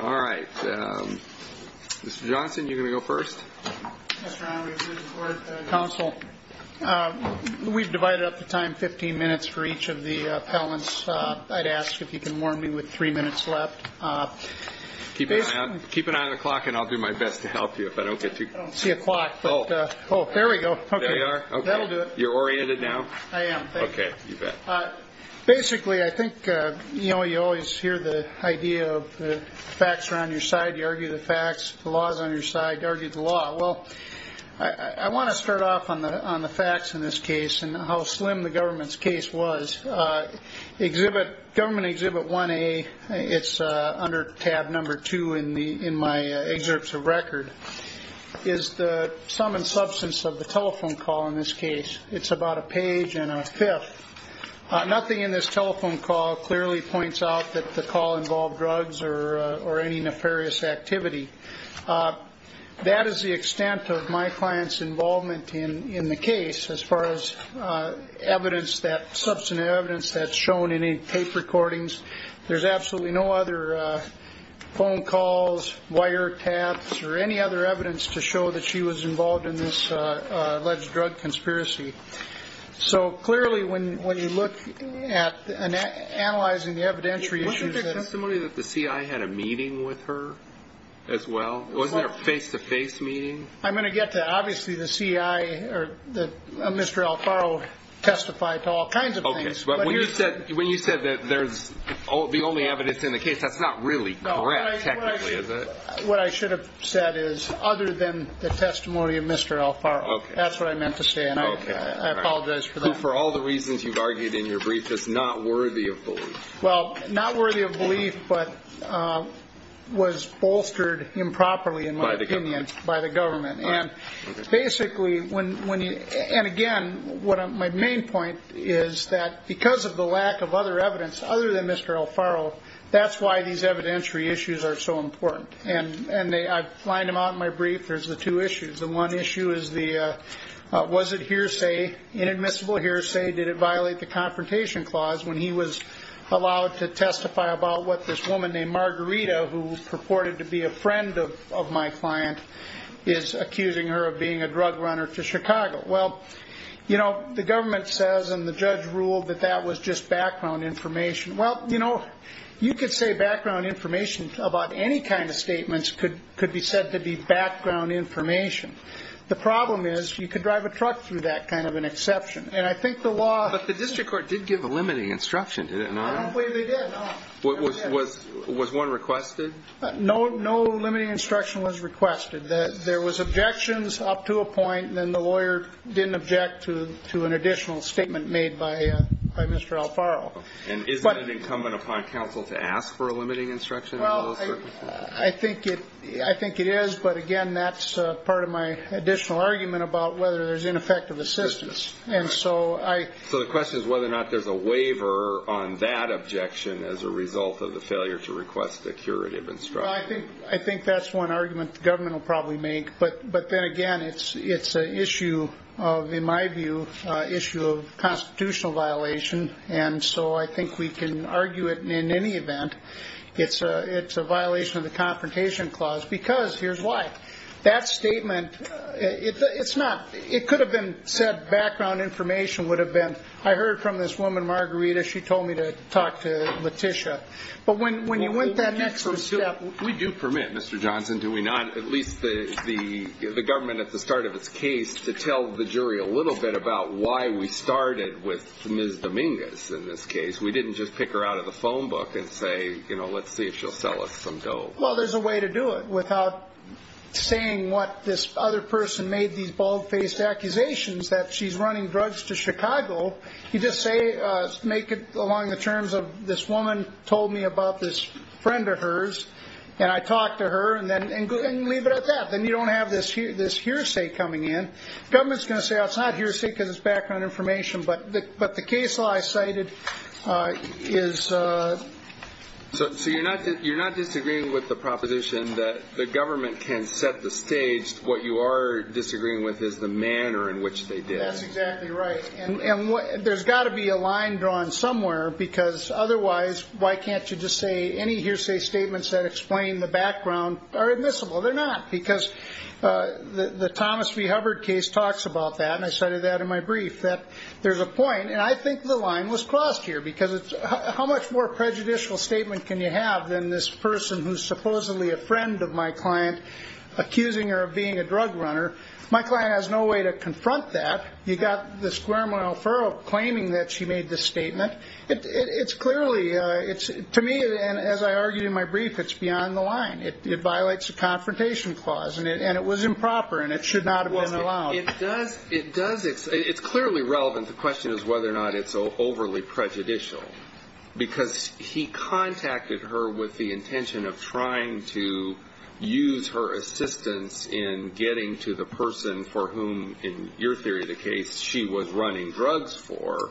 All right, Mr. Johnson, you're going to go first. Mr. Allen, we're here to support the council. We've divided up the time 15 minutes for each of the appellants. I'd ask if you can warn me with three minutes left. Keep an eye on the clock and I'll do my best to help you if I don't get to see a clock. Oh, there we go. Okay, that'll do it. You're oriented now? I am. Okay, you bet. Basically, I think you always hear the idea of the facts are on your side, you argue the facts, the law is on your side, you argue the law. Well, I want to start off on the facts in this case and how slim the government's case was. Government Exhibit 1A, it's under tab number two in my excerpts of record, is the sum and substance of the telephone call in this case. It's about a page and a fifth. Nothing in this telephone call clearly points out that the call involved drugs or any nefarious activity. That is the extent of my client's involvement in the case. As far as evidence, that substantive evidence that's shown in any tape recordings, there's absolutely no other phone calls, wiretaps, or any other evidence to show that she was involved in this alleged drug conspiracy. So clearly, when you look at and analyzing the evidentiary issues... Wasn't there testimony that the CI had a meeting with her as well? Wasn't there a face-to-face meeting? I'm going to get to that. Obviously, the CI or Mr. Alfaro testified to all kinds of things. Okay, but when you said that there's the only evidence in the case, that's not really correct, technically, is it? What I should have said is, other than the testimony of Mr. Alfaro, that's what I meant to say, and I apologize for that. For all the reasons you've argued in your brief, it's not worthy of belief. Well, not worthy of belief, but was bolstered improperly, in my opinion, by the government. Basically, and again, my main point is that because of the lack of other evidence other than Mr. Alfaro, that's why these evidentiary issues are so important. I've lined them out in my brief. There's the two issues. The one issue is the, was it hearsay, inadmissible hearsay? Did it violate the confrontation clause when he was allowed to testify about what this woman named Margarita, who purported to be a friend of my client, is accusing her of being a drug runner to Chicago? Well, the government says, and the judge ruled that that was just background information. Well, you could say background information about any kind of statements could be said to be background information. The problem is, you could drive a truck through that kind of an exception. And I think the law- But the district court did give a limiting instruction, did it not? I don't believe they did, no. Was one requested? No limiting instruction was requested. There was objections up to a point, and then the lawyer didn't object to an additional statement made by Mr. Alfaro. And isn't it incumbent upon counsel to ask for a limiting instruction? Well, I think it is, but again, that's part of my additional argument about whether there's ineffective assistance. And so I- So the question is whether or not there's a waiver on that objection as a result of the failure to request the curative instruction. Well, I think that's one argument the government will probably make. But then again, it's an issue of, in my view, an issue of constitutional violation. And so I think we can argue it in any event. It's a violation of the Confrontation Clause because, here's why, that statement, it's not- It could have been said background information would have been, I heard from this woman, Margarita, she told me to talk to Letitia. But when you went that next step- We do permit, Mr. Johnson, do we not? At least the government at the start of its case to tell the jury a little bit about why we started with Ms. Dominguez in this case. We didn't just pick her out of the phone book and say, you know, let's see if she'll sell us some dough. Well, there's a way to do it without saying what this other person made these bald-faced accusations that she's running drugs to Chicago. You just say, make it along the terms of this woman told me about this friend of hers, and I talked to her, and leave it at that. Then you don't have this hearsay coming in. Government's going to say, well, it's not hearsay because it's background information, but the case law I cited is- So you're not disagreeing with the proposition that the government can set the stage. What you are disagreeing with is the manner in which they did. That's exactly right. And there's got to be a line drawn somewhere, because otherwise, why can't you just say any hearsay statements that explain the background are admissible? They're not, because the Thomas v. Hubbard case talks about that, and I cited that in my brief, that there's a point. And I think the line was crossed here, because how much more prejudicial statement can you have than this person who's supposedly a friend of my client accusing her of being a drug runner? My client has no way to confront that. You've got this Guerrero claiming that she made this statement. To me, and as I argued in my brief, it's beyond the line. It violates a confrontation clause, and it was improper, and it should not have been allowed. It does- it's clearly relevant. The question is whether or not it's overly prejudicial, because he contacted her with the intention of trying to use her assistance in getting to the person for whom, in your theory of the case, she was running drugs for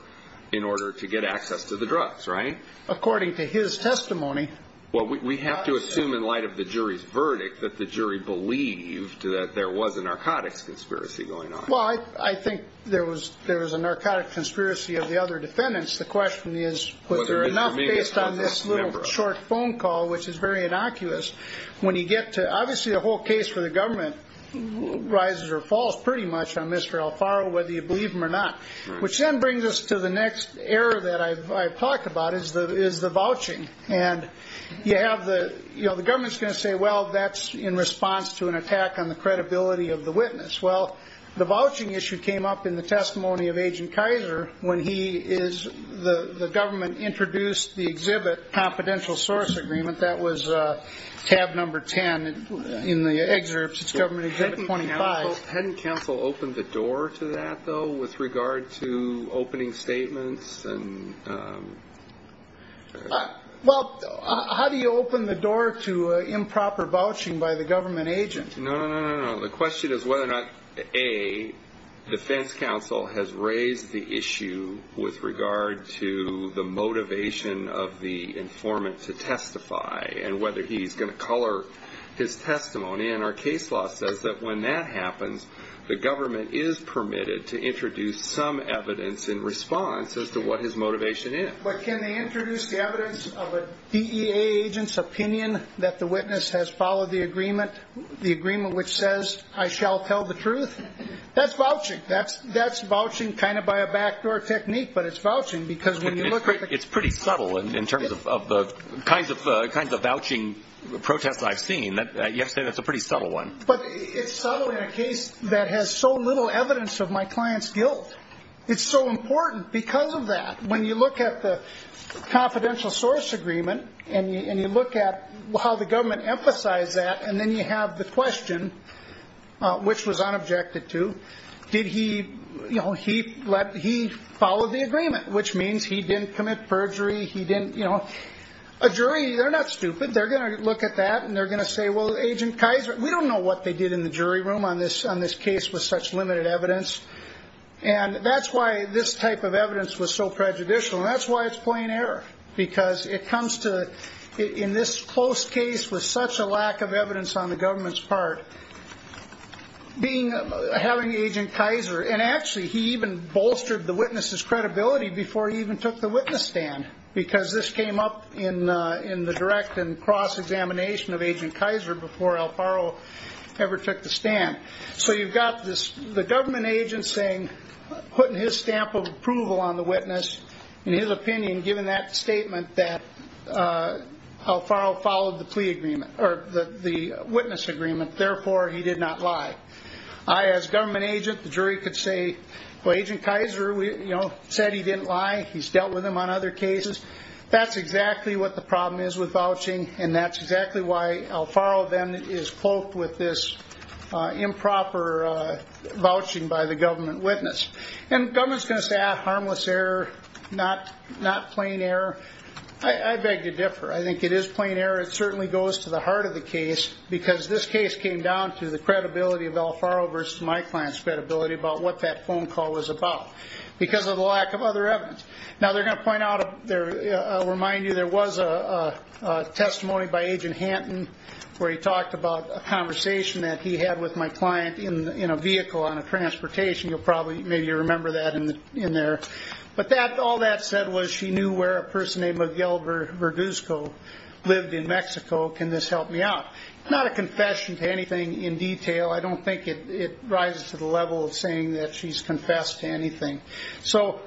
in order to get access to the drugs, right? According to his testimony- Well, we have to assume in light of the jury's verdict that the jury believed that there was a narcotics conspiracy going on. Well, I think there was a narcotics conspiracy of the other defendants. The question is, was there enough based on this little short phone call, which is very innocuous, when you get to- obviously, the whole case for the government rises or falls pretty much on Mr. Alfaro, whether you believe him or not. Which then brings us to the next error that I've talked about, is the vouching. And you have the- you know, the government's going to say, well, that's in response to an attack on the credibility of the witness. Well, the vouching issue came up in the testimony of Agent Kaiser when he is- the government introduced the exhibit confidential source agreement. That was tab number 10 in the excerpts. It's government exhibit 25. Hadn't counsel opened the door to that, though, with regard to opening statements and- Well, how do you open the door to improper vouching by the government agent? No, no, no, no, no. The question is whether or not, A, defense counsel has raised the issue with regard to the motivation of the informant to testify and whether he's going to color his testimony. And our case law says that when that happens, the government is permitted to introduce some evidence in response as to what his motivation is. But can they introduce the evidence of a DEA agent's opinion that the witness has followed the agreement, the agreement which says, I shall tell the truth? That's vouching. That's vouching kind of by a backdoor technique. But it's vouching because when you look at the- It's pretty subtle in terms of the kinds of vouching protests I've seen. You have to say that's a pretty subtle one. But it's subtle in a case that has so little evidence of my client's guilt. It's so important because of that. When you look at the confidential source agreement, and you look at how the government emphasized that, and then you have the question, which was unobjected to, did he- He followed the agreement, which means he didn't commit perjury. He didn't- A jury, they're not stupid. They're going to look at that, and they're going to say, well, Agent Kaiser- We don't know what they did in the jury room on this case with such limited evidence. And that's why this type of evidence was so prejudicial. And that's why it's plain error. Because it comes to, in this close case with such a lack of evidence on the government's part, being- Having Agent Kaiser- And actually, he even bolstered the witness's credibility before he even took the witness stand. Because this came up in the direct and cross-examination of Agent Kaiser before Alfaro ever took the stand. So you've got this- The government agent saying, putting his stamp of approval on the witness, in his opinion, given that statement that Alfaro followed the plea agreement, or the witness agreement, therefore, he did not lie. I, as government agent, the jury could say, well, Agent Kaiser said he didn't lie. He's dealt with them on other cases. That's exactly what the problem is with vouching. And that's exactly why Alfaro then is cloaked with this improper vouching by the government witness. And government's going to say, ah, harmless error, not plain error. I beg to differ. I think it is plain error. It certainly goes to the heart of the case. Because this case came down to the credibility of Alfaro versus my client's credibility about what that phone call was about. Because of the lack of other evidence. Now, they're going to point out, I'll remind you, there was a testimony by Agent Hanton, where he talked about a conversation that he had with my client in a vehicle on a transportation. You'll probably, maybe, remember that in there. But all that said was, she knew where a person named Miguel Verduzco lived in Mexico. Can this help me out? Not a confession to anything in detail. I don't think it rises to the level of saying that she's confessed to anything. So,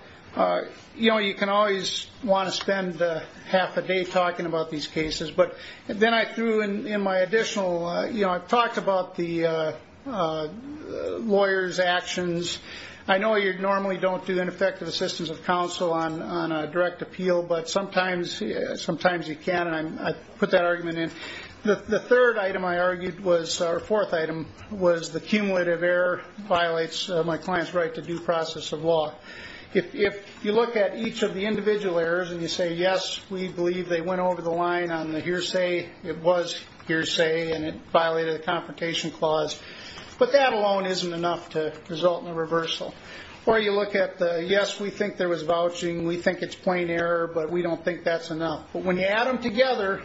you know, you can always want to spend half a day talking about these cases. But then I threw in my additional, you know, I've talked about the lawyer's actions. I know you normally don't do ineffective assistance of counsel on a direct appeal. But sometimes you can. And I put that argument in. The third item I argued was, or fourth item, was the cumulative error violates my client's right to due process of law. If you look at each of the individual errors and you say, yes, we believe they went over the line on the hearsay, it was hearsay, and it violated the Confrontation Clause. But that alone isn't enough to result in a reversal. Or you look at the, yes, we think there was vouching. We think it's plain error. But we don't think that's enough. But when you add them together,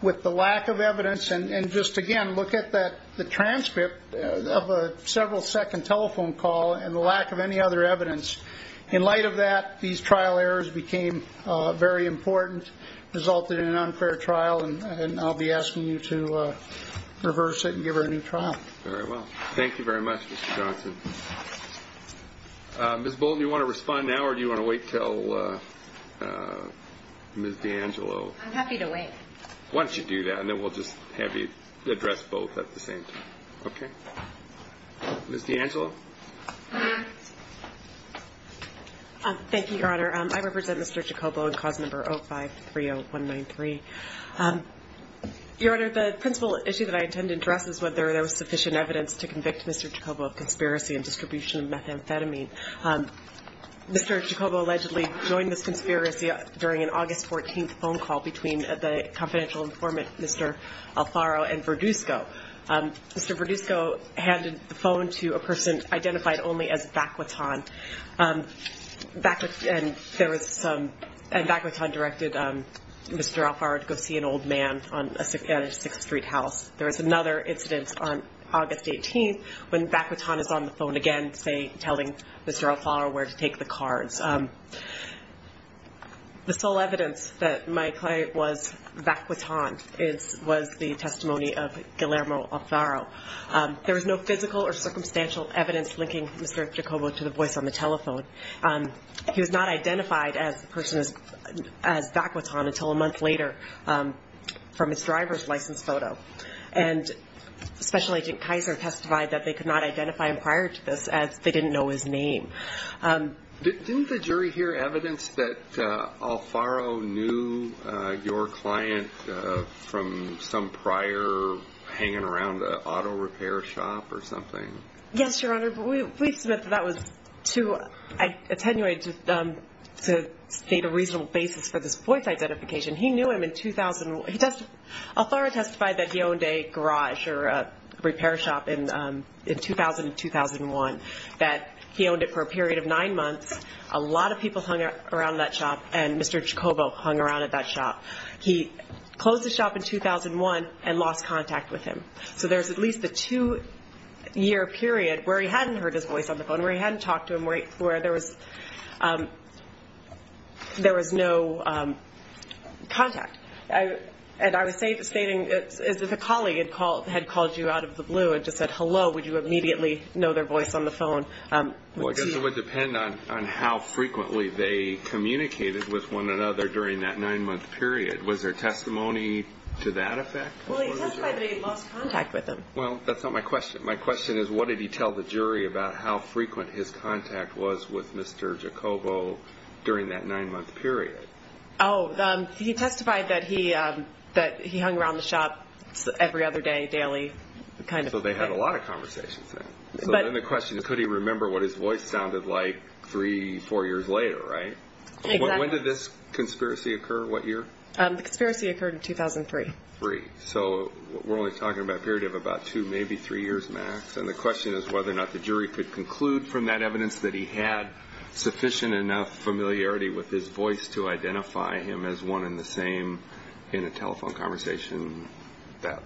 with the lack of evidence, and just, again, look at the telephone call, and the lack of any other evidence, in light of that, these trial errors became very important, resulted in an unfair trial. And I'll be asking you to reverse it and give her a new trial. Very well. Thank you very much, Mr. Johnson. Ms. Bolton, do you want to respond now? Or do you want to wait until Ms. D'Angelo? I'm happy to wait. Why don't you do that? And then we'll just have you address both at the same time. Okay. Ms. D'Angelo? Thank you, Your Honor. I represent Mr. Chacobo on cause number 0530193. Your Honor, the principal issue that I intend to address is whether there was sufficient evidence to convict Mr. Chacobo of conspiracy and distribution of methamphetamine. Mr. Chacobo allegedly joined this conspiracy during an August 14th phone call between the confidential informant, Mr. Alfaro and Verduzco. Mr. Verduzco handed the phone to a person identified only as Vaquiton. And Vaquiton directed Mr. Alfaro to go see an old man at a 6th Street house. There was another incident on August 18th when Vaquiton is on the phone again, telling Mr. Alfaro where to take the cards. The sole evidence that my client was Vaquiton was the testimony of Guillermo Alfaro. There was no physical or circumstantial evidence linking Mr. Chacobo to the voice on the telephone. He was not identified as the person as Vaquiton until a month later from his driver's license photo. And Special Agent Kaiser testified that they could not identify him prior to this as they didn't know his name. Didn't the jury hear evidence that Alfaro knew your client from some prior hanging around the auto repair shop or something? Yes, Your Honor, but we submit that that was to attenuate to state a reasonable basis for this voice identification. He knew him in 2000. Alfaro testified that he owned a garage or a repair shop in 2000 and 2001, that he owned it for a period of nine months. A lot of people hung around that shop, and Mr. Chacobo hung around at that shop. He closed the shop in 2001 and lost contact with him. So there's at least a two-year period where he hadn't heard his voice on the phone, where he hadn't talked to him, where there was no contact. And I was stating as if a colleague had called you out of the blue and just said, Well, I guess it would depend on how frequently they communicated with one another during that nine-month period. Was there testimony to that effect? Well, he testified that he lost contact with him. Well, that's not my question. My question is, what did he tell the jury about how frequent his contact was with Mr. Chacobo during that nine-month period? Oh, he testified that he hung around the shop every other day, daily, kind of. So they had a lot of conversations then. So then the question is, could he remember what his voice sounded like three, four years later, right? When did this conspiracy occur? What year? The conspiracy occurred in 2003. Three. So we're only talking about a period of about two, maybe three years max. And the question is whether or not the jury could conclude from that evidence that he had sufficient enough familiarity with his voice to identify him as one and the same in a telephone conversation that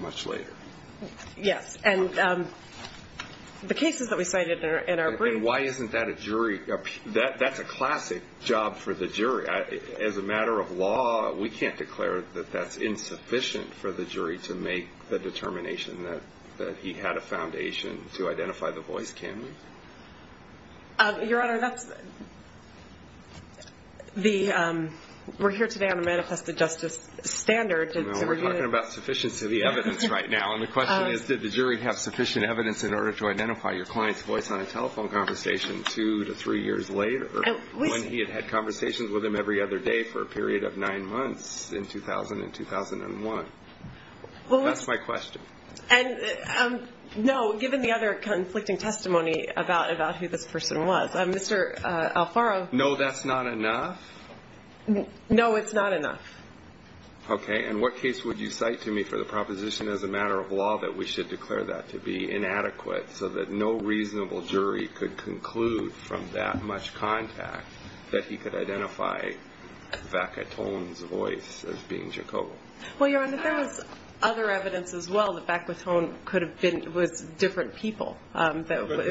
much later. Yes. And the cases that we cited in our briefs— And why isn't that a jury—that's a classic job for the jury. As a matter of law, we can't declare that that's insufficient for the jury to make the determination that he had a foundation to identify the voice, can we? Your Honor, that's the—we're here today on a manifested justice standard. We're talking about sufficiency of the evidence right now. And the question is, did the jury have sufficient evidence in order to identify your client's voice on a telephone conversation two to three years later when he had had conversations with him every other day for a period of nine months in 2000 and 2001? That's my question. No, given the other conflicting testimony about who this person was. Mr. Alfaro— No, that's not enough? No, it's not enough. Okay. And what case would you cite to me for the proposition as a matter of law that we should declare that to be inadequate so that no reasonable jury could conclude from that much contact that he could identify Vacaton's voice as being Jacobo? Well, Your Honor, there was other evidence as well. The Vacaton could have been—was different people. It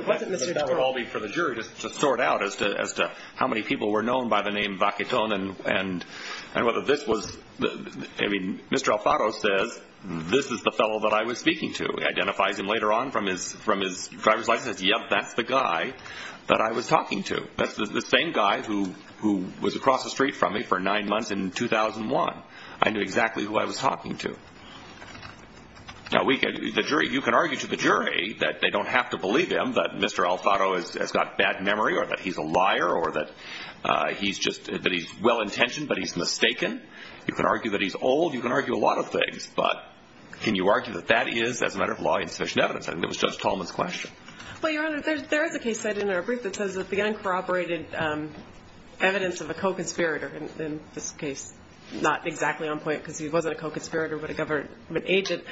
wasn't Mr. Jacobo. But that would all be for the jury to sort out as to how many people were known by the I mean, Mr. Alfaro says, this is the fellow that I was speaking to, identifies him later on from his driver's license. Yep, that's the guy that I was talking to. That's the same guy who was across the street from me for nine months in 2001. I knew exactly who I was talking to. Now, you can argue to the jury that they don't have to believe him, that Mr. Alfaro has got bad memory or that he's a liar or that he's just—that he's well-intentioned, but he's mistaken. You can argue that he's old. You can argue a lot of things. But can you argue that that is, as a matter of law, insufficient evidence? I think that was Judge Tallman's question. Well, Your Honor, there is a case cited in our brief that says that the uncorroborated evidence of a co-conspirator, in this case, not exactly on point because he wasn't a co-conspirator but a government agent,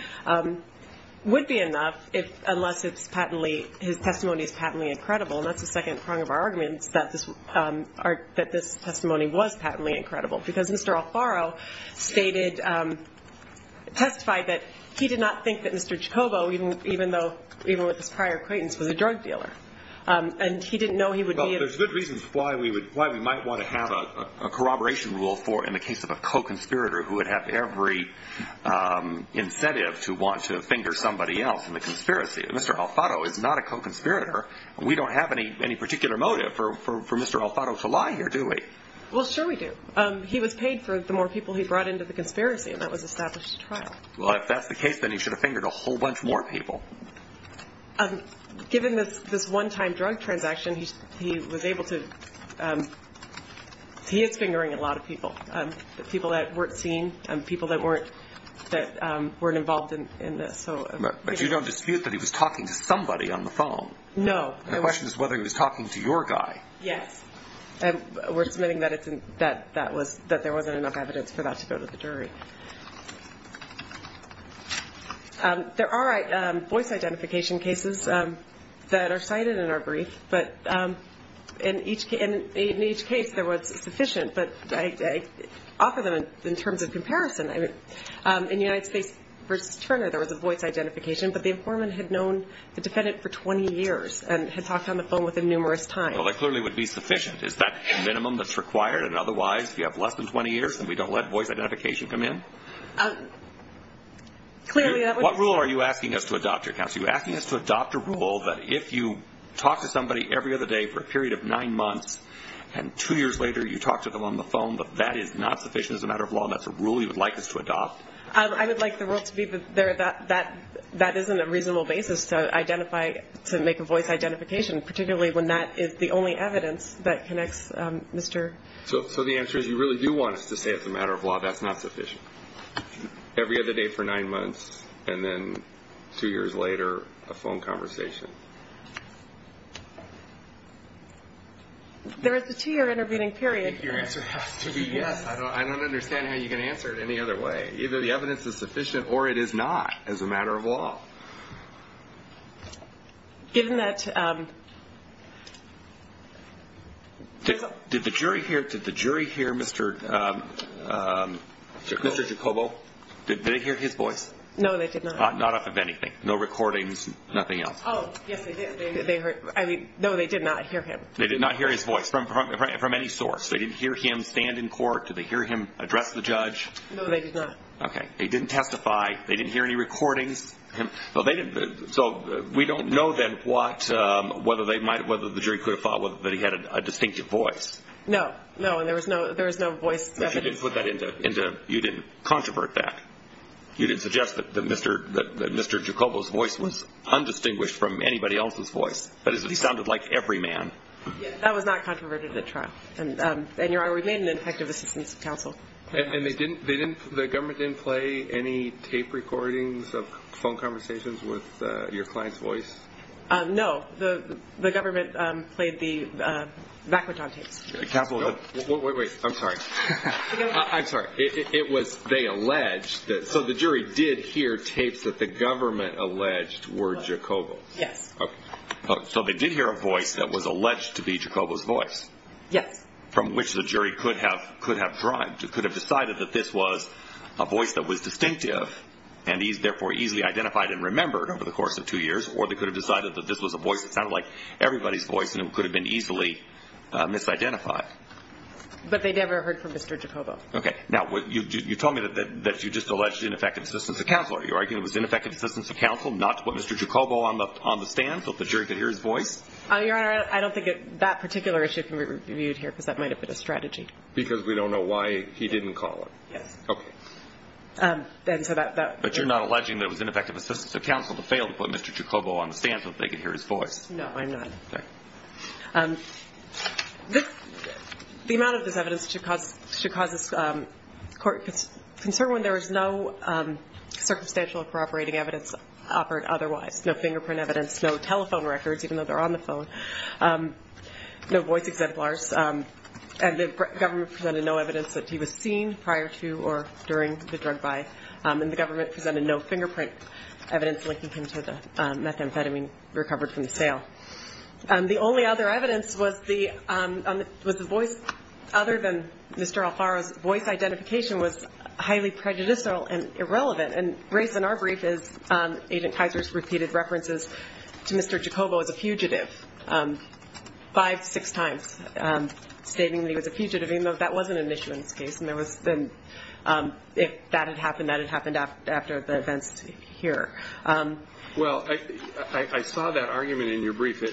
would be enough if—unless it's patently—his testimony is patently incredible. And that's the second prong of our arguments, that this testimony was patently incredible. Because Mr. Alfaro stated—testified that he did not think that Mr. Jacobo, even though—even with his prior acquaintance, was a drug dealer. And he didn't know he would be— Well, there's good reasons why we would—why we might want to have a corroboration rule for, in the case of a co-conspirator who would have every incentive to want to finger somebody else in the conspiracy. Mr. Alfaro is not a co-conspirator. We don't have any particular motive for Mr. Alfaro to lie here, do we? Well, sure we do. He was paid for the more people he brought into the conspiracy, and that was established at trial. Well, if that's the case, then he should have fingered a whole bunch more people. Given this one-time drug transaction, he was able to—he is fingering a lot of people, people that weren't seen, people that weren't—that weren't involved in this. But you don't dispute that he was talking to somebody on the phone? No. The question is whether he was talking to your guy. Yes. And we're submitting that it's—that that was—that there wasn't enough evidence for that to go to the jury. There are voice identification cases that are cited in our brief, but in each case there was sufficient, but I offer them in terms of comparison. In United States v. Turner, there was a voice identification, but the informant had known the defendant for 20 years and had talked on the phone with him numerous times. That clearly would be sufficient. Is that the minimum that's required? And otherwise, if you have less than 20 years, then we don't let voice identification come in? Clearly, that would— What rule are you asking us to adopt, your counsel? Are you asking us to adopt a rule that if you talk to somebody every other day for a period of nine months, and two years later you talk to them on the phone, that that is not sufficient as a matter of law, and that's a rule you would like us to adopt? I would like the rule to be that that isn't a reasonable basis to identify—to make a evidence that connects Mr.— So the answer is you really do want us to say, as a matter of law, that's not sufficient. Every other day for nine months, and then two years later, a phone conversation. There is a two-year intervening period— I think your answer has to be yes. I don't understand how you can answer it any other way. Either the evidence is sufficient or it is not, as a matter of law. Given that— Did the jury hear Mr. Jacobo? Did they hear his voice? No, they did not. Not off of anything? No recordings, nothing else? Oh, yes, they did. They heard—no, they did not hear him. They did not hear his voice from any source? They didn't hear him stand in court? Did they hear him address the judge? No, they did not. Okay. They didn't testify? They didn't hear any recordings? No, they didn't. So we don't know, then, what—whether they might—whether the jury could have thought that he had a distinctive voice. No. No, and there was no voice evidence. But you didn't put that into—you didn't controvert that. You didn't suggest that Mr. Jacobo's voice was undistinguished from anybody else's voice. That is, it sounded like every man. That was not controverted at trial. And, Your Honor, we made an effective assistance to counsel. And they didn't—they didn't—the government didn't play any tape recordings of phone conversations with your client's voice? No, the government played the vacuodon tapes. The Capitol Hill— Wait, wait, wait. I'm sorry. I'm sorry. It was—they alleged that—so the jury did hear tapes that the government alleged were Jacobo's? Yes. So they did hear a voice that was alleged to be Jacobo's voice? Yes. From which the jury could have—could have derived—could have decided that this was a voice that was distinctive and therefore easily identified and remembered over the course of two years? Or they could have decided that this was a voice that sounded like everybody's voice and it could have been easily misidentified? But they never heard from Mr. Jacobo. Okay. Now, you told me that you just alleged ineffective assistance to counsel. Are you arguing it was ineffective assistance to counsel, not what Mr. Jacobo on the stand thought the jury could hear his voice? Your Honor, I don't think that particular issue can be reviewed here because that might have been a strategy. Because we don't know why he didn't call it? Yes. Okay. But you're not alleging that it was ineffective assistance of counsel to fail to put Mr. Jacobo on the stand so that they could hear his voice? No, I'm not. The amount of this evidence should cause us concern when there is no circumstantial or corroborating evidence offered otherwise. No fingerprint evidence. No telephone records, even though they're on the phone. No voice exemplars. And the government presented no evidence that he was seen prior to or during the drug buy. And the government presented no fingerprint evidence linking him to the methamphetamine recovered from the sale. The only other evidence was the voice. Other than Mr. Alfaro's voice, identification was highly prejudicial and irrelevant. And Grace, in our brief, Agent Kaiser's repeated references to Mr. Jacobo as a fugitive five, six times, stating that he was a fugitive, even though that wasn't an issue in this case. And that had happened after the events here. Well, I saw that argument in your brief.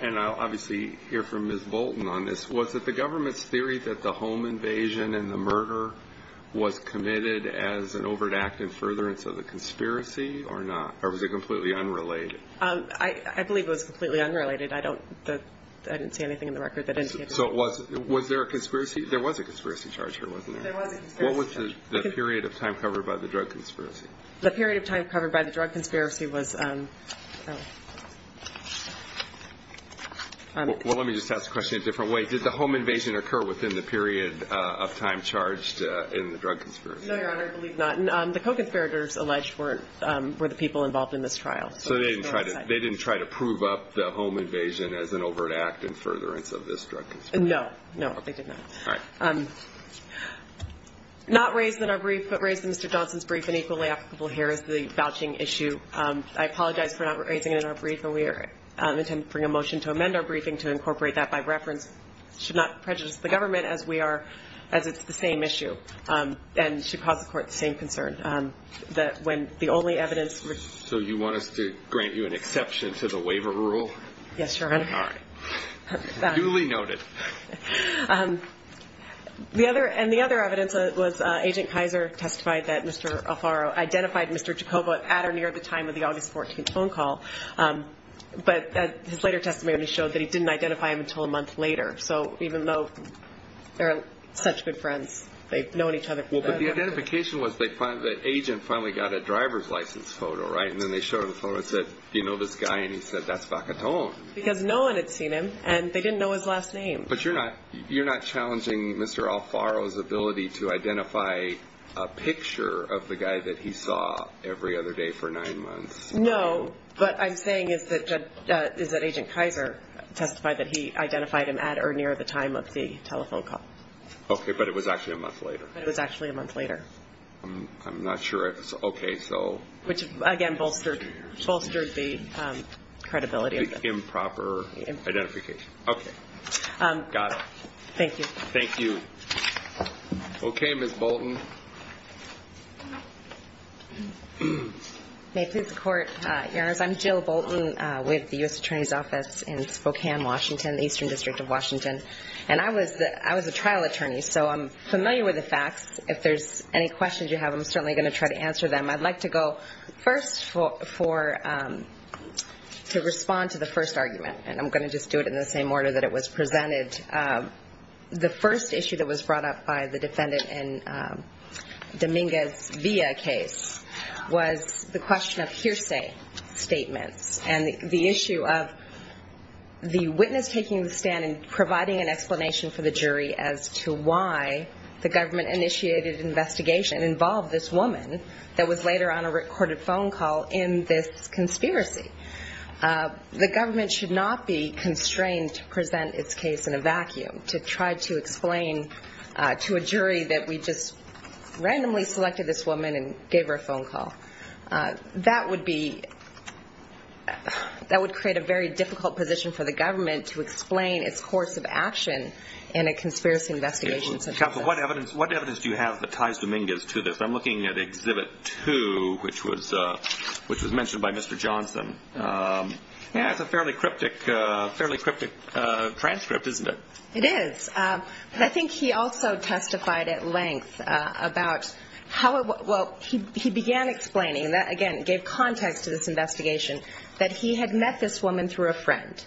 And I'll obviously hear from Ms. Bolton on this. Was it the government's theory that the home invasion and the murder was committed as an overt act in furtherance of the conspiracy or not? Or was it completely unrelated? I believe it was completely unrelated. I don't see anything in the record that indicated that. So was there a conspiracy? There was a conspiracy charge here, wasn't there? There was a conspiracy charge. What was the period of time covered by the drug conspiracy? The period of time covered by the drug conspiracy was... Well, let me just ask the question a different way. Did the home invasion occur within the period of time charged in the drug conspiracy? No, Your Honor, I believe not. The co-conspirators alleged were the people involved in this trial. So they didn't try to prove up the home invasion as an overt act in furtherance of this drug conspiracy? No, no, they did not. Not raised in our brief, but raised in Mr. Johnson's brief and equally applicable here is the vouching issue. I apologize for not raising it in our brief. And we intend to bring a motion to amend our briefing to incorporate that by reference. Should not prejudice the government as it's the same issue. And should cause the court the same concern that when the only evidence... So you want us to grant you an exception to the waiver rule? Yes, Your Honor. All right, duly noted. And the other evidence was Agent Kaiser testified that Mr. Alfaro identified Mr. Jacobo at or near the time of the August 14th phone call. But his later testimony showed that he didn't identify him until a month later. So even though they're such good friends, they've known each other... Well, but the identification was they found that Agent finally got a driver's license photo, right? And then they showed the photo and said, do you know this guy? And he said, that's Vacaton. Because no one had seen him and they didn't know his last name. But you're not challenging Mr. Alfaro's ability to identify a picture of the guy that he saw every other day for nine months. No, but I'm saying is that Agent Kaiser testified that he identified him at or near the time of the telephone call. Okay, but it was actually a month later. But it was actually a month later. I'm not sure if it's okay, so... Which again, bolstered the credibility of the... Improper identification. Okay, got it. Thank you. Thank you. Okay, Ms. Bolton. May it please the court, your honors, I'm Jill Bolton with the US Attorney's Office in Spokane, Washington, the Eastern District of Washington. And I was a trial attorney, so I'm familiar with the facts. If there's any questions you have, I'm certainly going to try to answer them. I'd like to go first to respond to the first argument. And I'm going to just do it in the same order that it was presented. The first issue that was brought up by the defendant in Dominguez-Villa case was the question of hearsay statements. And the issue of the witness taking the stand and providing an explanation for the jury as to why the government initiated investigation involved this woman that was later on a recorded phone call in this conspiracy. The government should not be constrained to present its case in a vacuum, to try to explain to a jury that we just randomly selected this woman and gave her a phone call. That would create a very difficult position for the government to explain its course of action in a conspiracy investigation. Counsel, what evidence do you have that ties Dominguez to this? I'm looking at Exhibit 2, which was mentioned by Mr. Johnson. Yeah, it's a fairly cryptic transcript, isn't it? It is. But I think he also testified at length about how – well, he began explaining, and that again gave context to this investigation, that he had met this woman through a friend.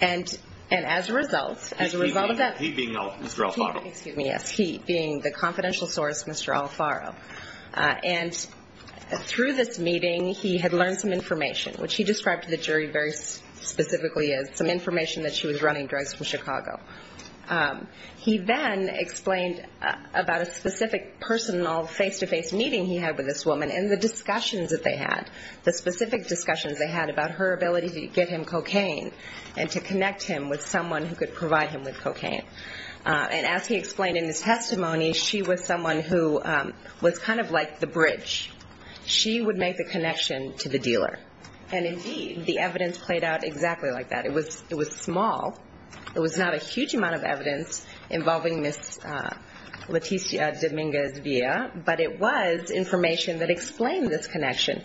And as a result, as a result of that – He being Mr. Alfaro. Excuse me, yes. He being the confidential source, Mr. Alfaro. And through this meeting, he had learned some information, which he described to the jury very specifically as some information that she was running drugs from Chicago. He then explained about a specific personal face-to-face meeting he had with this woman and the discussions that they had, the specific discussions they had about her ability to give him cocaine and to connect him with someone who could provide him with cocaine. And as he explained in his testimony, she was someone who was kind of like the bridge. She would make the connection to the dealer. And indeed, the evidence played out exactly like that. It was small. It was not a huge amount of evidence involving Ms. Leticia Dominguez Villa, but it was information that explained this connection.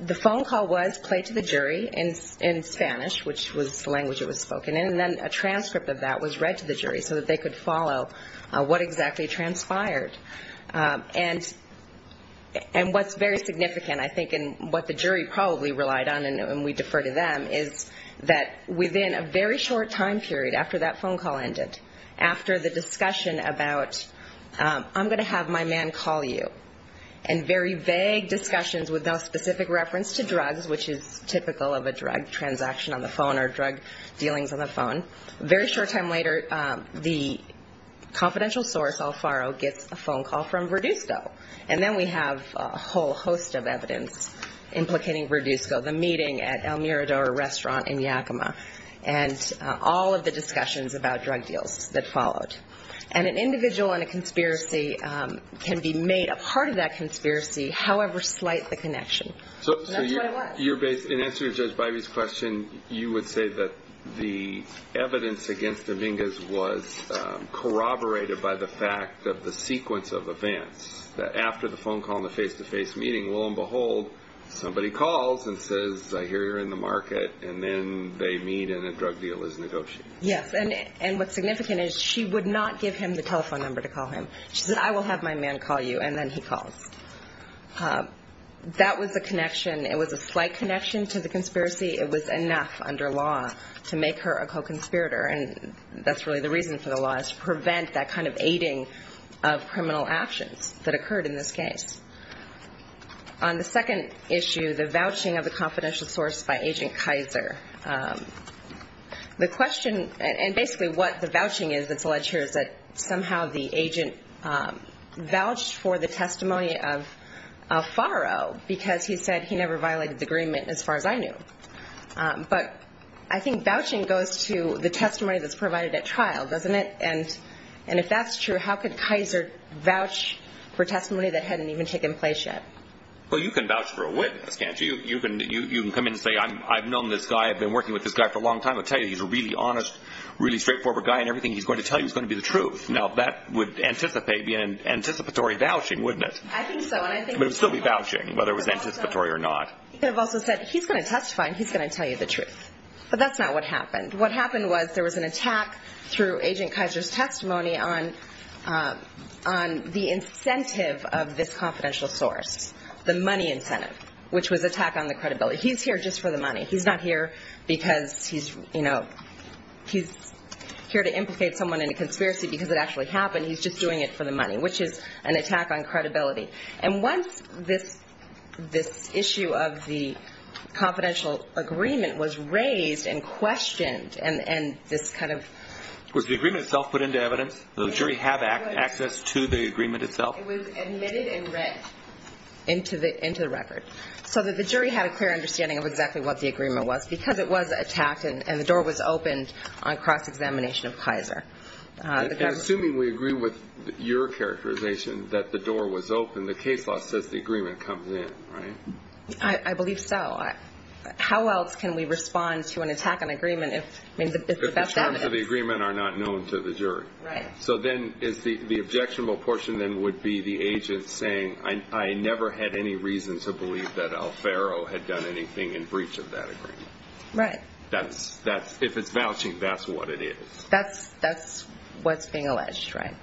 The phone call was played to the jury in Spanish, which was the language it was spoken in, and then a transcript of that was read to the jury so that they could follow what exactly transpired. And what's very significant, I think, and what the jury probably relied on, and we defer to them, is that within a very short time period after that phone call ended, after the discussion about, I'm going to have my man call you, and very vague discussions with no specific reference to drugs, which is typical of a drug transaction on the phone or drug dealings on the phone, very short time later, the confidential source, Alfaro, gets a phone call from Verduzco. And then we have a whole host of evidence implicating Verduzco, the meeting at El Mirador restaurant in Yakima, and all of the discussions about drug deals that followed. And an individual in a conspiracy can be made a part of that conspiracy, however slight the connection. And that's what it was. In answer to Judge Bivey's question, you would say that the evidence against Dominguez was corroborated by the fact that the sequence of events, that after the phone call and the face-to-face meeting, lo and behold, somebody calls and says, I hear you're in the market, and then they meet and a drug deal is negotiated. Yes, and what's significant is she would not give him the telephone number to call him. She said, I will have my man call you, and then he calls. That was the connection. It was a slight connection to the conspiracy. It was enough under law to make her a co-conspirator. And that's really the reason for the law, is to prevent that kind of aiding of criminal actions that occurred in this case. On the second issue, the vouching of the confidential source by Agent Kaiser. The question, and basically what the vouching is that's alleged here, is that somehow the as far as I knew. But I think vouching goes to the testimony that's provided at trial, doesn't it? And if that's true, how could Kaiser vouch for testimony that hadn't even taken place yet? Well, you can vouch for a witness, can't you? You can come in and say, I've known this guy. I've been working with this guy for a long time. I'll tell you, he's a really honest, really straightforward guy, and everything he's going to tell you is going to be the truth. Now, that would anticipate, be an anticipatory vouching, wouldn't it? I think so, and I think It would still be vouching, whether it was anticipatory or not. You could have also said, he's going to testify, and he's going to tell you the truth. But that's not what happened. What happened was there was an attack through Agent Kaiser's testimony on the incentive of this confidential source, the money incentive, which was attack on the credibility. He's here just for the money. He's not here because he's, you know, he's here to implicate someone in a conspiracy because it actually happened. He's just doing it for the money, which is an attack on credibility. And once this issue of the confidential agreement was raised and questioned and this kind of Was the agreement itself put into evidence? Does the jury have access to the agreement itself? It was admitted and read into the record so that the jury had a clear understanding of exactly what the agreement was, because it was attacked, and the door was opened on cross-examination of Kaiser. Assuming we agree with your characterization that the door was open, the case law says the agreement comes in, right? I believe so. How else can we respond to an attack on agreement if it's about evidence? If the terms of the agreement are not known to the jury. Right. So then the objectionable portion then would be the agent saying, I never had any reason to believe that Alfaro had done anything in breach of that agreement. Right. That's, if it's vouching, that's what it is. That's what's being alleged, right?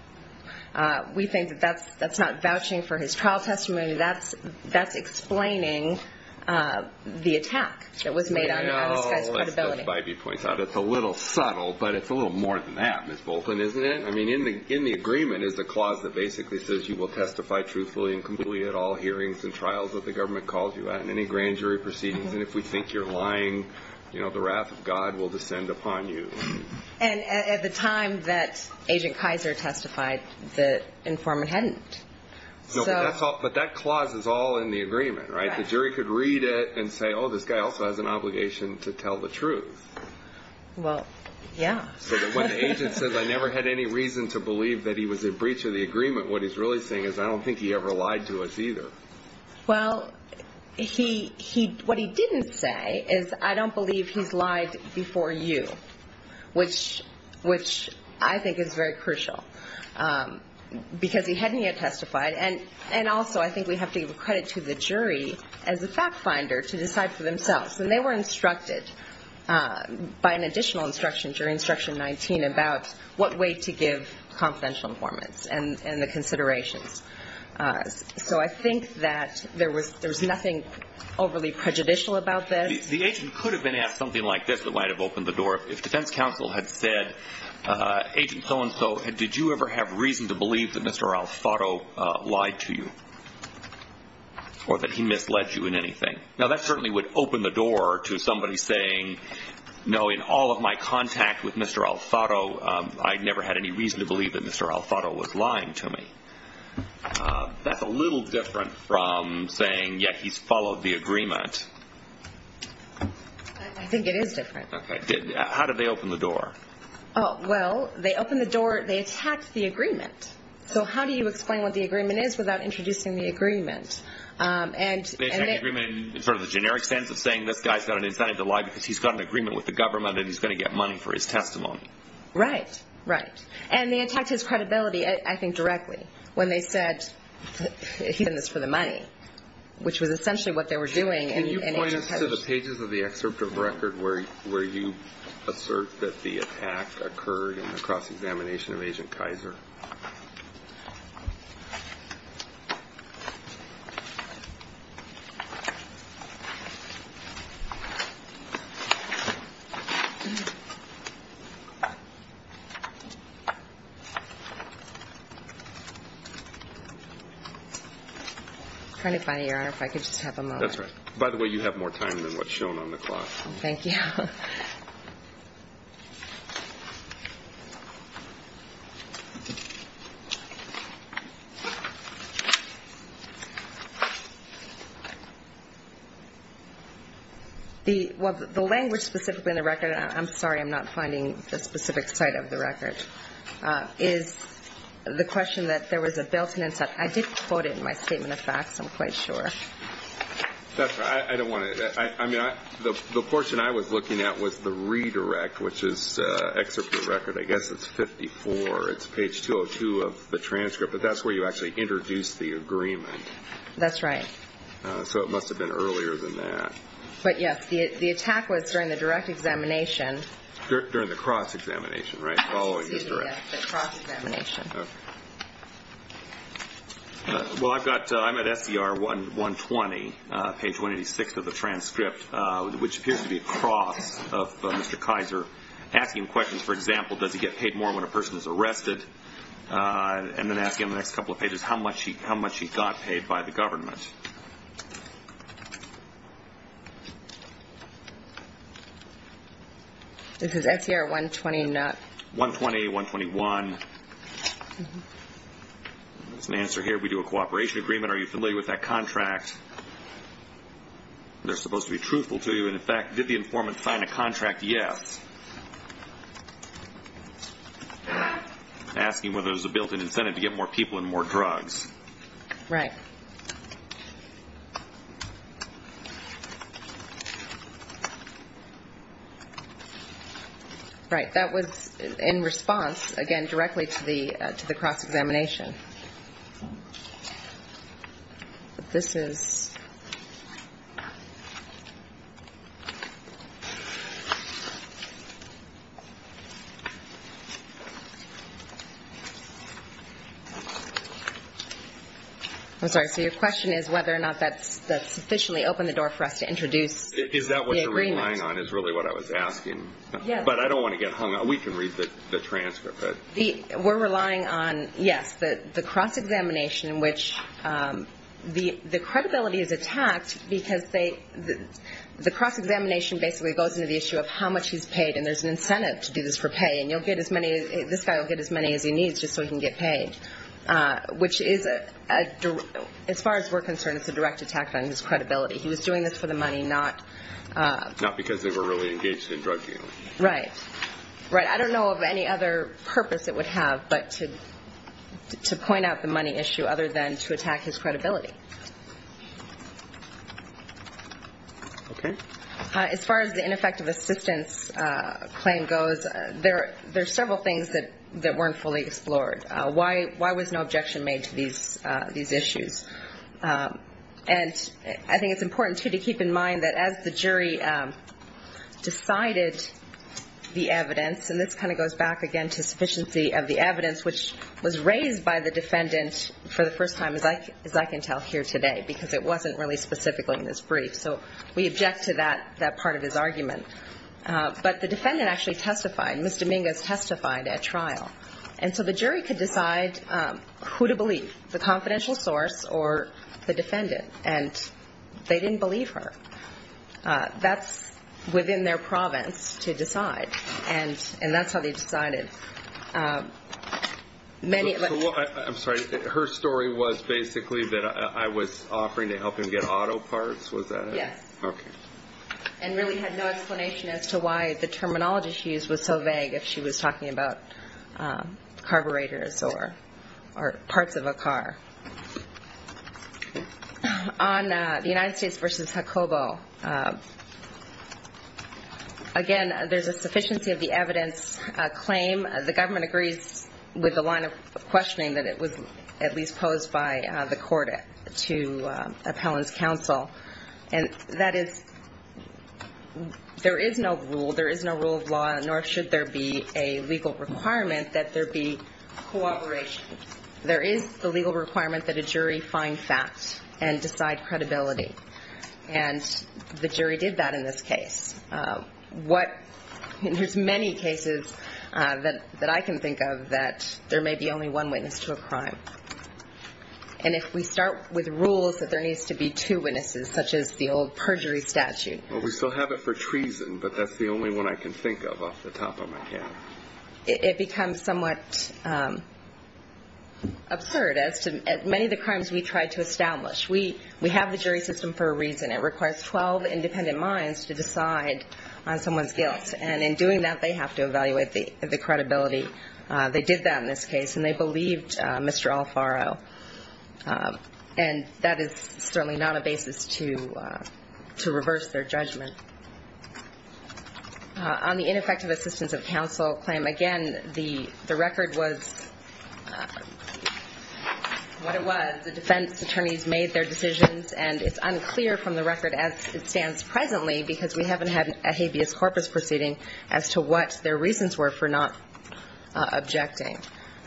We think that that's not vouching for his trial testimony. That's explaining the attack that was made on this guy's credibility. As Bybee points out, it's a little subtle, but it's a little more than that, Ms. Bolton, isn't it? I mean, in the agreement is the clause that basically says you will testify truthfully and completely at all hearings and trials that the government calls you at, and any grand jury proceedings. And if we think you're lying, the wrath of God will descend upon you. And at the time that Agent Kaiser testified, the informant hadn't. But that clause is all in the agreement, right? The jury could read it and say, oh, this guy also has an obligation to tell the truth. Well, yeah. So when the agent says, I never had any reason to believe that he was in breach of the agreement, what he's really saying is, I don't think he ever lied to us either. Well, what he didn't say is, I don't believe he's lied before you, which I think is very crucial, because he hadn't yet testified. And also, I think we have to give credit to the jury as a fact finder to decide for themselves. And they were instructed by an additional instruction during Instruction 19 about what way to give confidential informants and the considerations. So I think that there was nothing overly prejudicial about this. The agent could have been asked something like this that might have opened the door. If Defense Counsel had said, Agent so and so, did you ever have reason to believe that Mr. Alfaro lied to you, or that he misled you in anything? Now, that certainly would open the door to somebody saying, no, in all of my contact with Mr. Alfaro, I never had any reason to believe that Mr. Alfaro was lying to me. That's a little different from saying, yeah, he's followed the agreement. I think it is different. OK. How did they open the door? Oh, well, they opened the door, they attacked the agreement. So how do you explain what the agreement is without introducing the agreement? And the agreement in sort of the generic sense of saying, this guy's got an incentive to lie because he's got an agreement with the government and he's going to get money for his testimony. Right, right. And they attacked his credibility, I think, directly when they said, he's doing this for the money, which was essentially what they were doing. Can you point us to the pages of the excerpt of the record where you assert that the attack occurred in the cross-examination of Agent Kaiser? It's kind of funny, Your Honor, if I could just have a moment. That's right. By the way, you have more time than what's shown on the clock. Thank you. The language specifically in the record, I'm sorry, I'm not finding the specific site of the record, is the question that there was a built-in incentive. I did quote it in my statement of facts, I'm quite sure. That's right, I don't want to, I mean, the portion I was looking at was the redirect, which is excerpt of the record, I guess it's 54. It's page 202 of the transcript, but that's where you actually introduced the agreement. That's right. So it must have been earlier than that. But yes, the attack was during the direct examination. During the cross-examination, right? The cross-examination. Well, I've got, I'm at SDR 120, page 186 of the transcript, which appears to be a cross of Mr. Kaiser asking questions, for example, does he get paid more when a person is arrested? And then asking on the next couple of pages, how much he got paid by the government? This is SDR 120, not... 120, 121. There's an answer here, we do a cooperation agreement, are you familiar with that contract? They're supposed to be truthful to you, and in fact, did the informant sign a contract? Yes. Asking whether there's a built-in incentive to get more people and more drugs. Right. Right, that was in response, again, directly to the cross-examination. This is... I'm sorry, so your question is whether or not that's sufficiently opened the door for us to introduce the agreement. Is that what you're relying on, is really what I was asking? Yes. But I don't want to get hung up. We can read the transcript. We're relying on, yes, the cross-examination, which the credibility is attacked because the cross-examination basically goes into the issue of how much he's paid, and there's an incentive to do this for pay, and you'll get as many... This guy will get as many as he needs just so he can get paid, which is, as far as we're concerned, it's a direct attack on his credibility. He was doing this for the money, not... Not because they were really engaged in drug dealing. Right. Right, I don't know of any other purpose it would have, but to point out the money issue other than to attack his credibility. Okay. As far as the ineffective assistance claim goes, there are several things that weren't fully explored. Why was no objection made to these issues? And I think it's important, too, to keep in mind that as the jury decided the evidence, and this kind of goes back, again, to sufficiency of the evidence, which was raised by the defendant for the first time, as I can tell here today, because it wasn't really specifically in this that part of his argument. But the defendant actually testified. Ms. Dominguez testified at trial. And so the jury could decide who to believe, the confidential source or the defendant, and they didn't believe her. That's within their province to decide, and that's how they decided. Many... I'm sorry, her story was basically that I was offering to help him get auto parts, was that it? Yes. Okay. And really had no explanation as to why the terminology she used was so vague if she was talking about carburetors or parts of a car. On the United States v. Jacobo, again, there's a sufficiency of the evidence claim. The government agrees with the line of questioning that it was at least posed by the court to counsel, and that is... There is no rule, there is no rule of law, nor should there be a legal requirement that there be cooperation. There is the legal requirement that a jury find facts and decide credibility, and the jury did that in this case. What... There's many cases that I can think of that there may be only one witness to a crime. And if we start with rules that there needs to be two witnesses, such as the old perjury statute... Well, we still have it for treason, but that's the only one I can think of off the top of my head. It becomes somewhat absurd as to many of the crimes we try to establish. We have the jury system for a reason. It requires 12 independent minds to decide on someone's guilt, and in doing that, they have to evaluate the credibility. They did that in this case, and they believed Mr. Alfaro. And that is certainly not a basis to reverse their judgment. On the ineffective assistance of counsel claim, again, the record was... What it was, the defense attorneys made their decisions, and it's unclear from the record as it stands presently, because we haven't had a habeas corpus proceeding, as to what their reasons were for not objecting.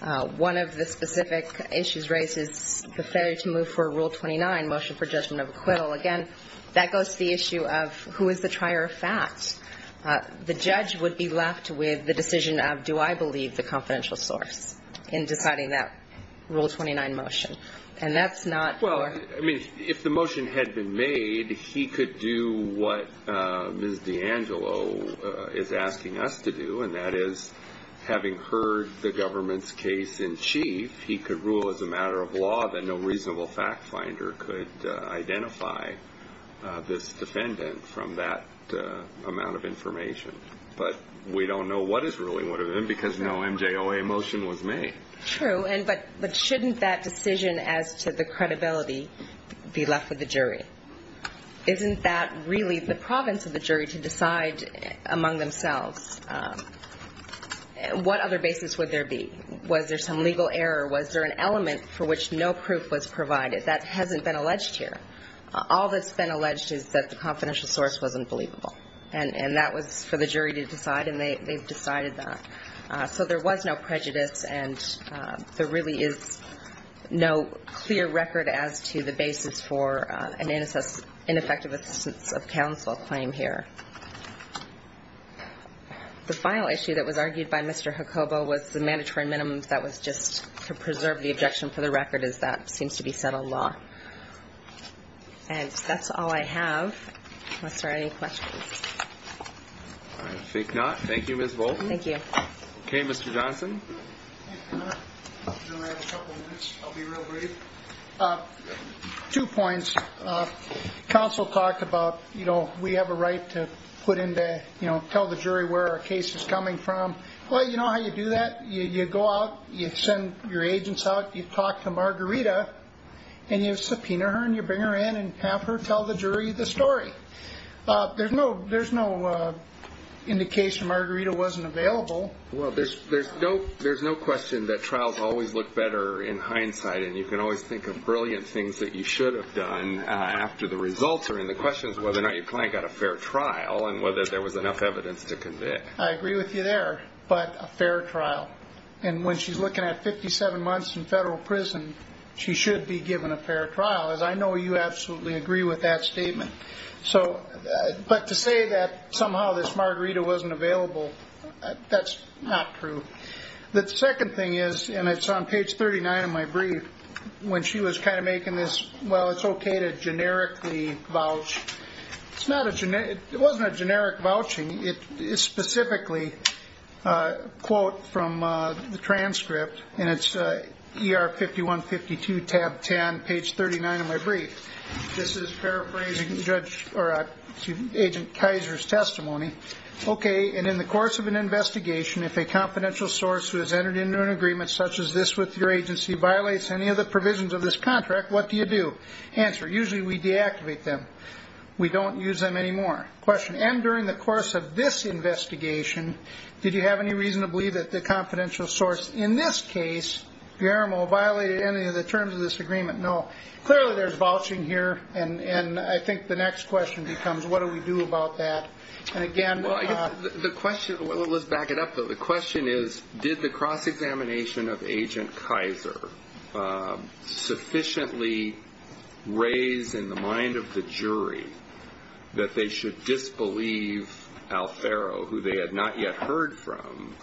One of the specific issues raised is the failure to move for Rule 29, motion for judgment of acquittal. Again, that goes to the issue of who is the trier of fact. The judge would be left with the decision of, do I believe the confidential source in deciding that Rule 29 motion? And that's not... And that is, having heard the government's case in chief, he could rule as a matter of law that no reasonable fact finder could identify this defendant from that amount of information. But we don't know what his ruling would have been, because no MJOA motion was made. True, but shouldn't that decision as to the credibility be left with the jury? Isn't that really the province of the jury to decide among themselves? And what other basis would there be? Was there some legal error? Was there an element for which no proof was provided? That hasn't been alleged here. All that's been alleged is that the confidential source wasn't believable. And that was for the jury to decide, and they've decided that. So there was no prejudice, and there really is no clear record as to the basis for an ineffective assistance of counsel claim here. And the final issue that was argued by Mr. Jacobo was the mandatory minimums that was just to preserve the objection for the record as that seems to be settled law. And that's all I have, unless there are any questions. All right, I think not. Thank you, Ms. Volkman. Thank you. Okay, Mr. Johnson. Mr. Chairman, I have a couple of minutes. I'll be real brief. Two points. Counsel talked about, you know, we have a right to tell the jury where our case is coming from. Well, you know how you do that? You go out, you send your agents out, you talk to Margarita, and you subpoena her, and you bring her in and have her tell the jury the story. There's no indication Margarita wasn't available. Well, there's no question that trials always look better in hindsight, and you can always think of brilliant things that you should have done after the results are in. The question is whether or not your client got a fair trial and whether there was enough evidence to convict. I agree with you there, but a fair trial. And when she's looking at 57 months in federal prison, she should be given a fair trial, as I know you absolutely agree with that statement. But to say that somehow this Margarita wasn't available, that's not true. The second thing is, and it's on page 39 of my brief, when she was kind of making this, well, it's okay to generically vouch. It's not a generic, it wasn't a generic vouching. It is specifically a quote from the transcript, and it's ER 5152, tab 10, page 39 of my brief. This is paraphrasing Judge, or Agent Kaiser's testimony. Okay, and in the course of an investigation, if a confidential source who has entered into an agreement such as this with your agency violates any of the provisions of this contract, what do you do? Answer, usually we deactivate them. We don't use them anymore. Question, and during the course of this investigation, did you have any reason to believe that the confidential source in this case, Guillermo, violated any of the terms of this agreement? No. Clearly there's vouching here, and I think the next question becomes, what do we do about that? And again, the question, well, let's back it up, though. The question is, did the cross-examination of Agent Kaiser sufficiently raise in the mind of the jury that they should disbelieve Alfaro, who they had not yet heard from,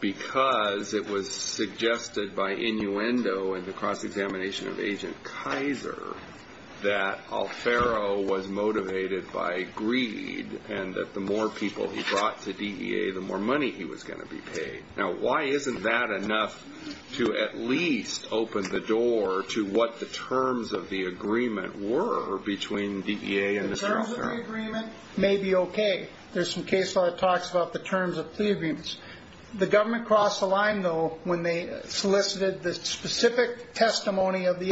because it was suggested by innuendo in the cross-examination of Agent Kaiser that Alfaro was motivated by greed and that the more people he brought to DEA, the more money he was going to be paid? Now, why isn't that enough to at least open the door to what the terms of the agreement were between DEA and Mr. Alfaro? The terms of the agreement may be okay. There's some case law that talks about the terms of plea agreements. The government crossed the line, though, when they solicited the specific testimony of the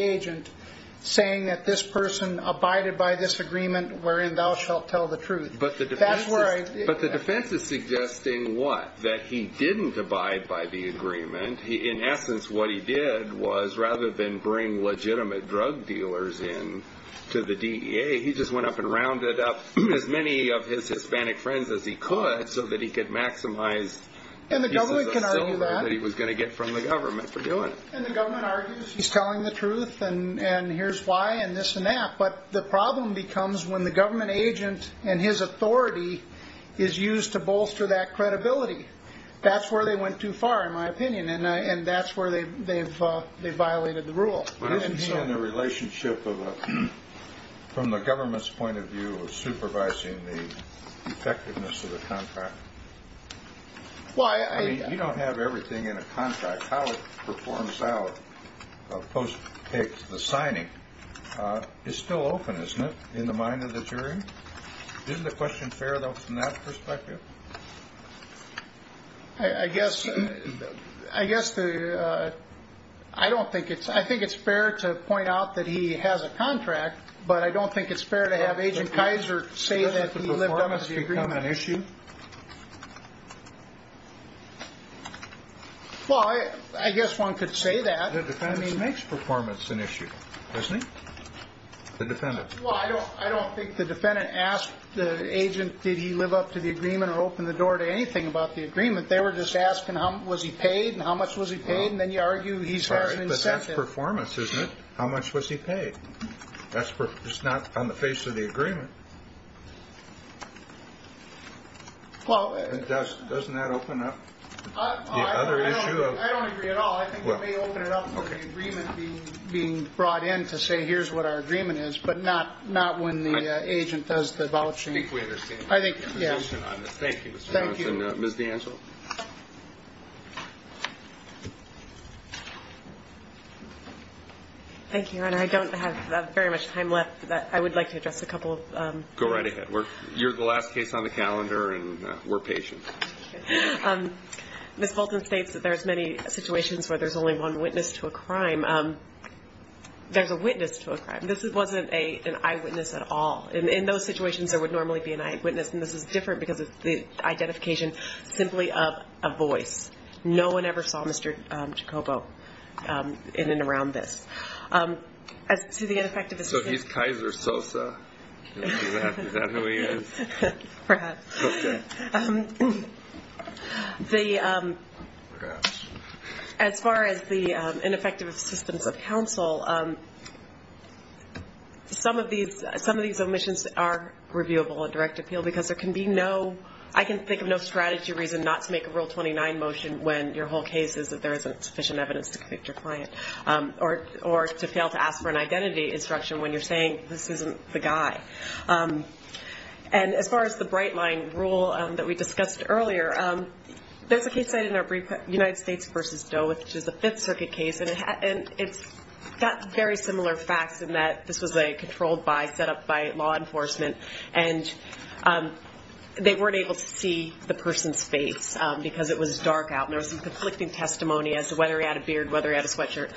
But the defense is suggesting what? That he didn't abide by the agreement. In essence, what he did was, rather than bring legitimate drug dealers in to the DEA, he just went up and rounded up as many of his Hispanic friends as he could so that he could maximize pieces of silver that he was going to get from the government for doing it. And the government argues he's telling the truth, and here's why, and this and that. The problem becomes when the government agent and his authority is used to bolster that credibility. That's where they went too far, in my opinion, and that's where they violated the rule. Why isn't he in a relationship, from the government's point of view, of supervising the effectiveness of the contract? You don't have everything in a contract. How it performs out, post the signing, is still open, isn't it, in the mind of the jury? Isn't the question fair, though, from that perspective? I think it's fair to point out that he has a contract, but I don't think it's fair to have Agent Kaiser say that he lived up to the agreement. Has the performance become an issue? Well, I guess one could say that. The defendant makes performance an issue, doesn't he? The defendant. Well, I don't think the defendant asked the agent did he live up to the agreement or opened the door to anything about the agreement. They were just asking was he paid, and how much was he paid, and then you argue he's got an incentive. Right, but that's performance, isn't it? How much was he paid? That's just not on the face of the agreement. Well, doesn't that open up the other issue? I don't agree at all. I think it may open it up for the agreement being brought in to say, here's what our agreement is, but not when the agent does the vouching. I think we understand the position on this. Thank you, Mr. Johnson. Ms. D'Angelo? Thank you, Your Honor. I don't have very much time left. I would like to address a couple of... Go right ahead. You're the last case on the calendar, and we're patient. Ms. Fulton states that there's many situations where there's only one witness to a crime. There's a witness to a crime. This wasn't an eyewitness at all. And in those situations, there would normally be an eyewitness, and this is different because of the identification simply of a voice. No one ever saw Mr. Jacopo in and around this. As to the ineffectiveness... So he's Kaiser Sosa? Is that who he is? Perhaps. As far as the ineffective assistance of counsel, some of these omissions are reviewable at direct appeal because there can be no... I can think of no strategy reason not to make a Rule 29 motion when your whole case is that there isn't sufficient evidence to convict your client, or to fail to ask for an identity instruction when you're saying this isn't the guy. And as far as the Bright Line Rule that we discussed earlier, there's a case I did in our brief, United States v. Doe, which is a Fifth Circuit case, and it's got very similar facts in that this was a controlled by, set up by law enforcement, and they weren't able to see the person's face because it was dark out, and there was some conflicting testimony as to whether he had a beard, whether he had a sweatshirt.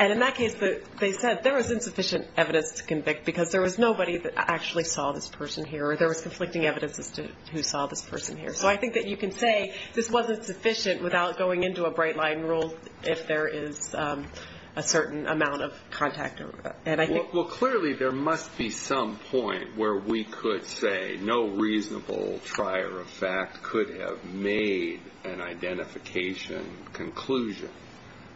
And in that case, they said there was insufficient evidence to convict because there was nobody that actually saw this person here, or there was conflicting evidence as to who saw this person here. So I think that you can say this wasn't sufficient without going into a Bright Line Rule if there is a certain amount of contact. Well, clearly, there must be some point where we could say no reasonable trier of fact could have made an identification conclusion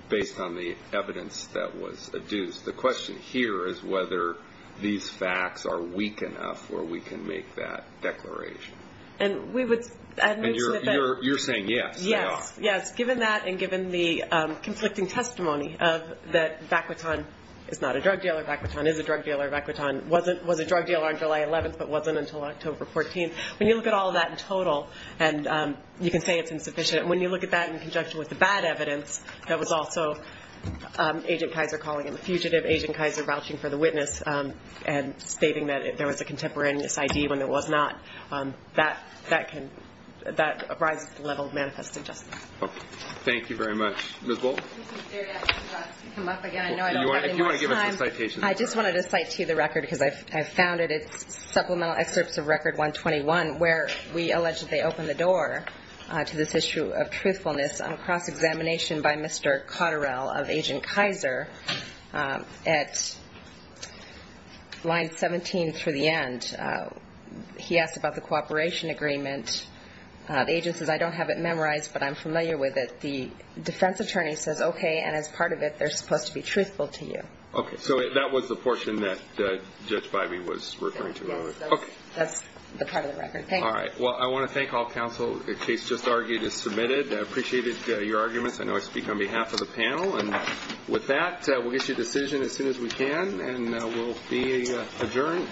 based on the evidence that was adduced. The question here is whether these facts are weak enough where we can make that declaration. And we would admit to the fact... You're saying yes. Yes. Yes. Given that, and given the conflicting testimony of that Vaquitone is not a drug dealer, Vaquitone is a drug dealer, Vaquitone was a drug dealer on July 11th, but wasn't until October 14th. When you look at all of that in total, and you can say it's insufficient, and when you look at that in conjunction with the bad evidence, that was also Agent Kaiser calling him a fugitive, Agent Kaiser vouching for the witness, and stating that there was a contemporaneous ID when there was not, that can... That rises the level of manifested justice. Okay. Thank you very much. Ms. Wolfe? This is Jerry. I'm just about to come up again. I know I don't have any more time. If you want to give us a citation. I just wanted to cite to you the record because I've found it. Supplemental excerpts of Record 121, where we allege that they opened the door to this issue of truthfulness on a cross-examination by Mr. Cotterell of Agent Kaiser at line 17 through the end. He asked about the cooperation agreement. The agent says, I don't have it memorized, but I'm familiar with it. The defense attorney says, okay, and as part of it, they're supposed to be truthful to you. Okay. So that was the portion that Judge Bybee was referring to. That's the part of the record. Thank you. All right. Well, I want to thank all counsel. The case just argued is submitted. I appreciated your arguments. I know I speak on behalf of the panel. And with that, we'll get you a decision as soon as we can. And we'll be adjourned.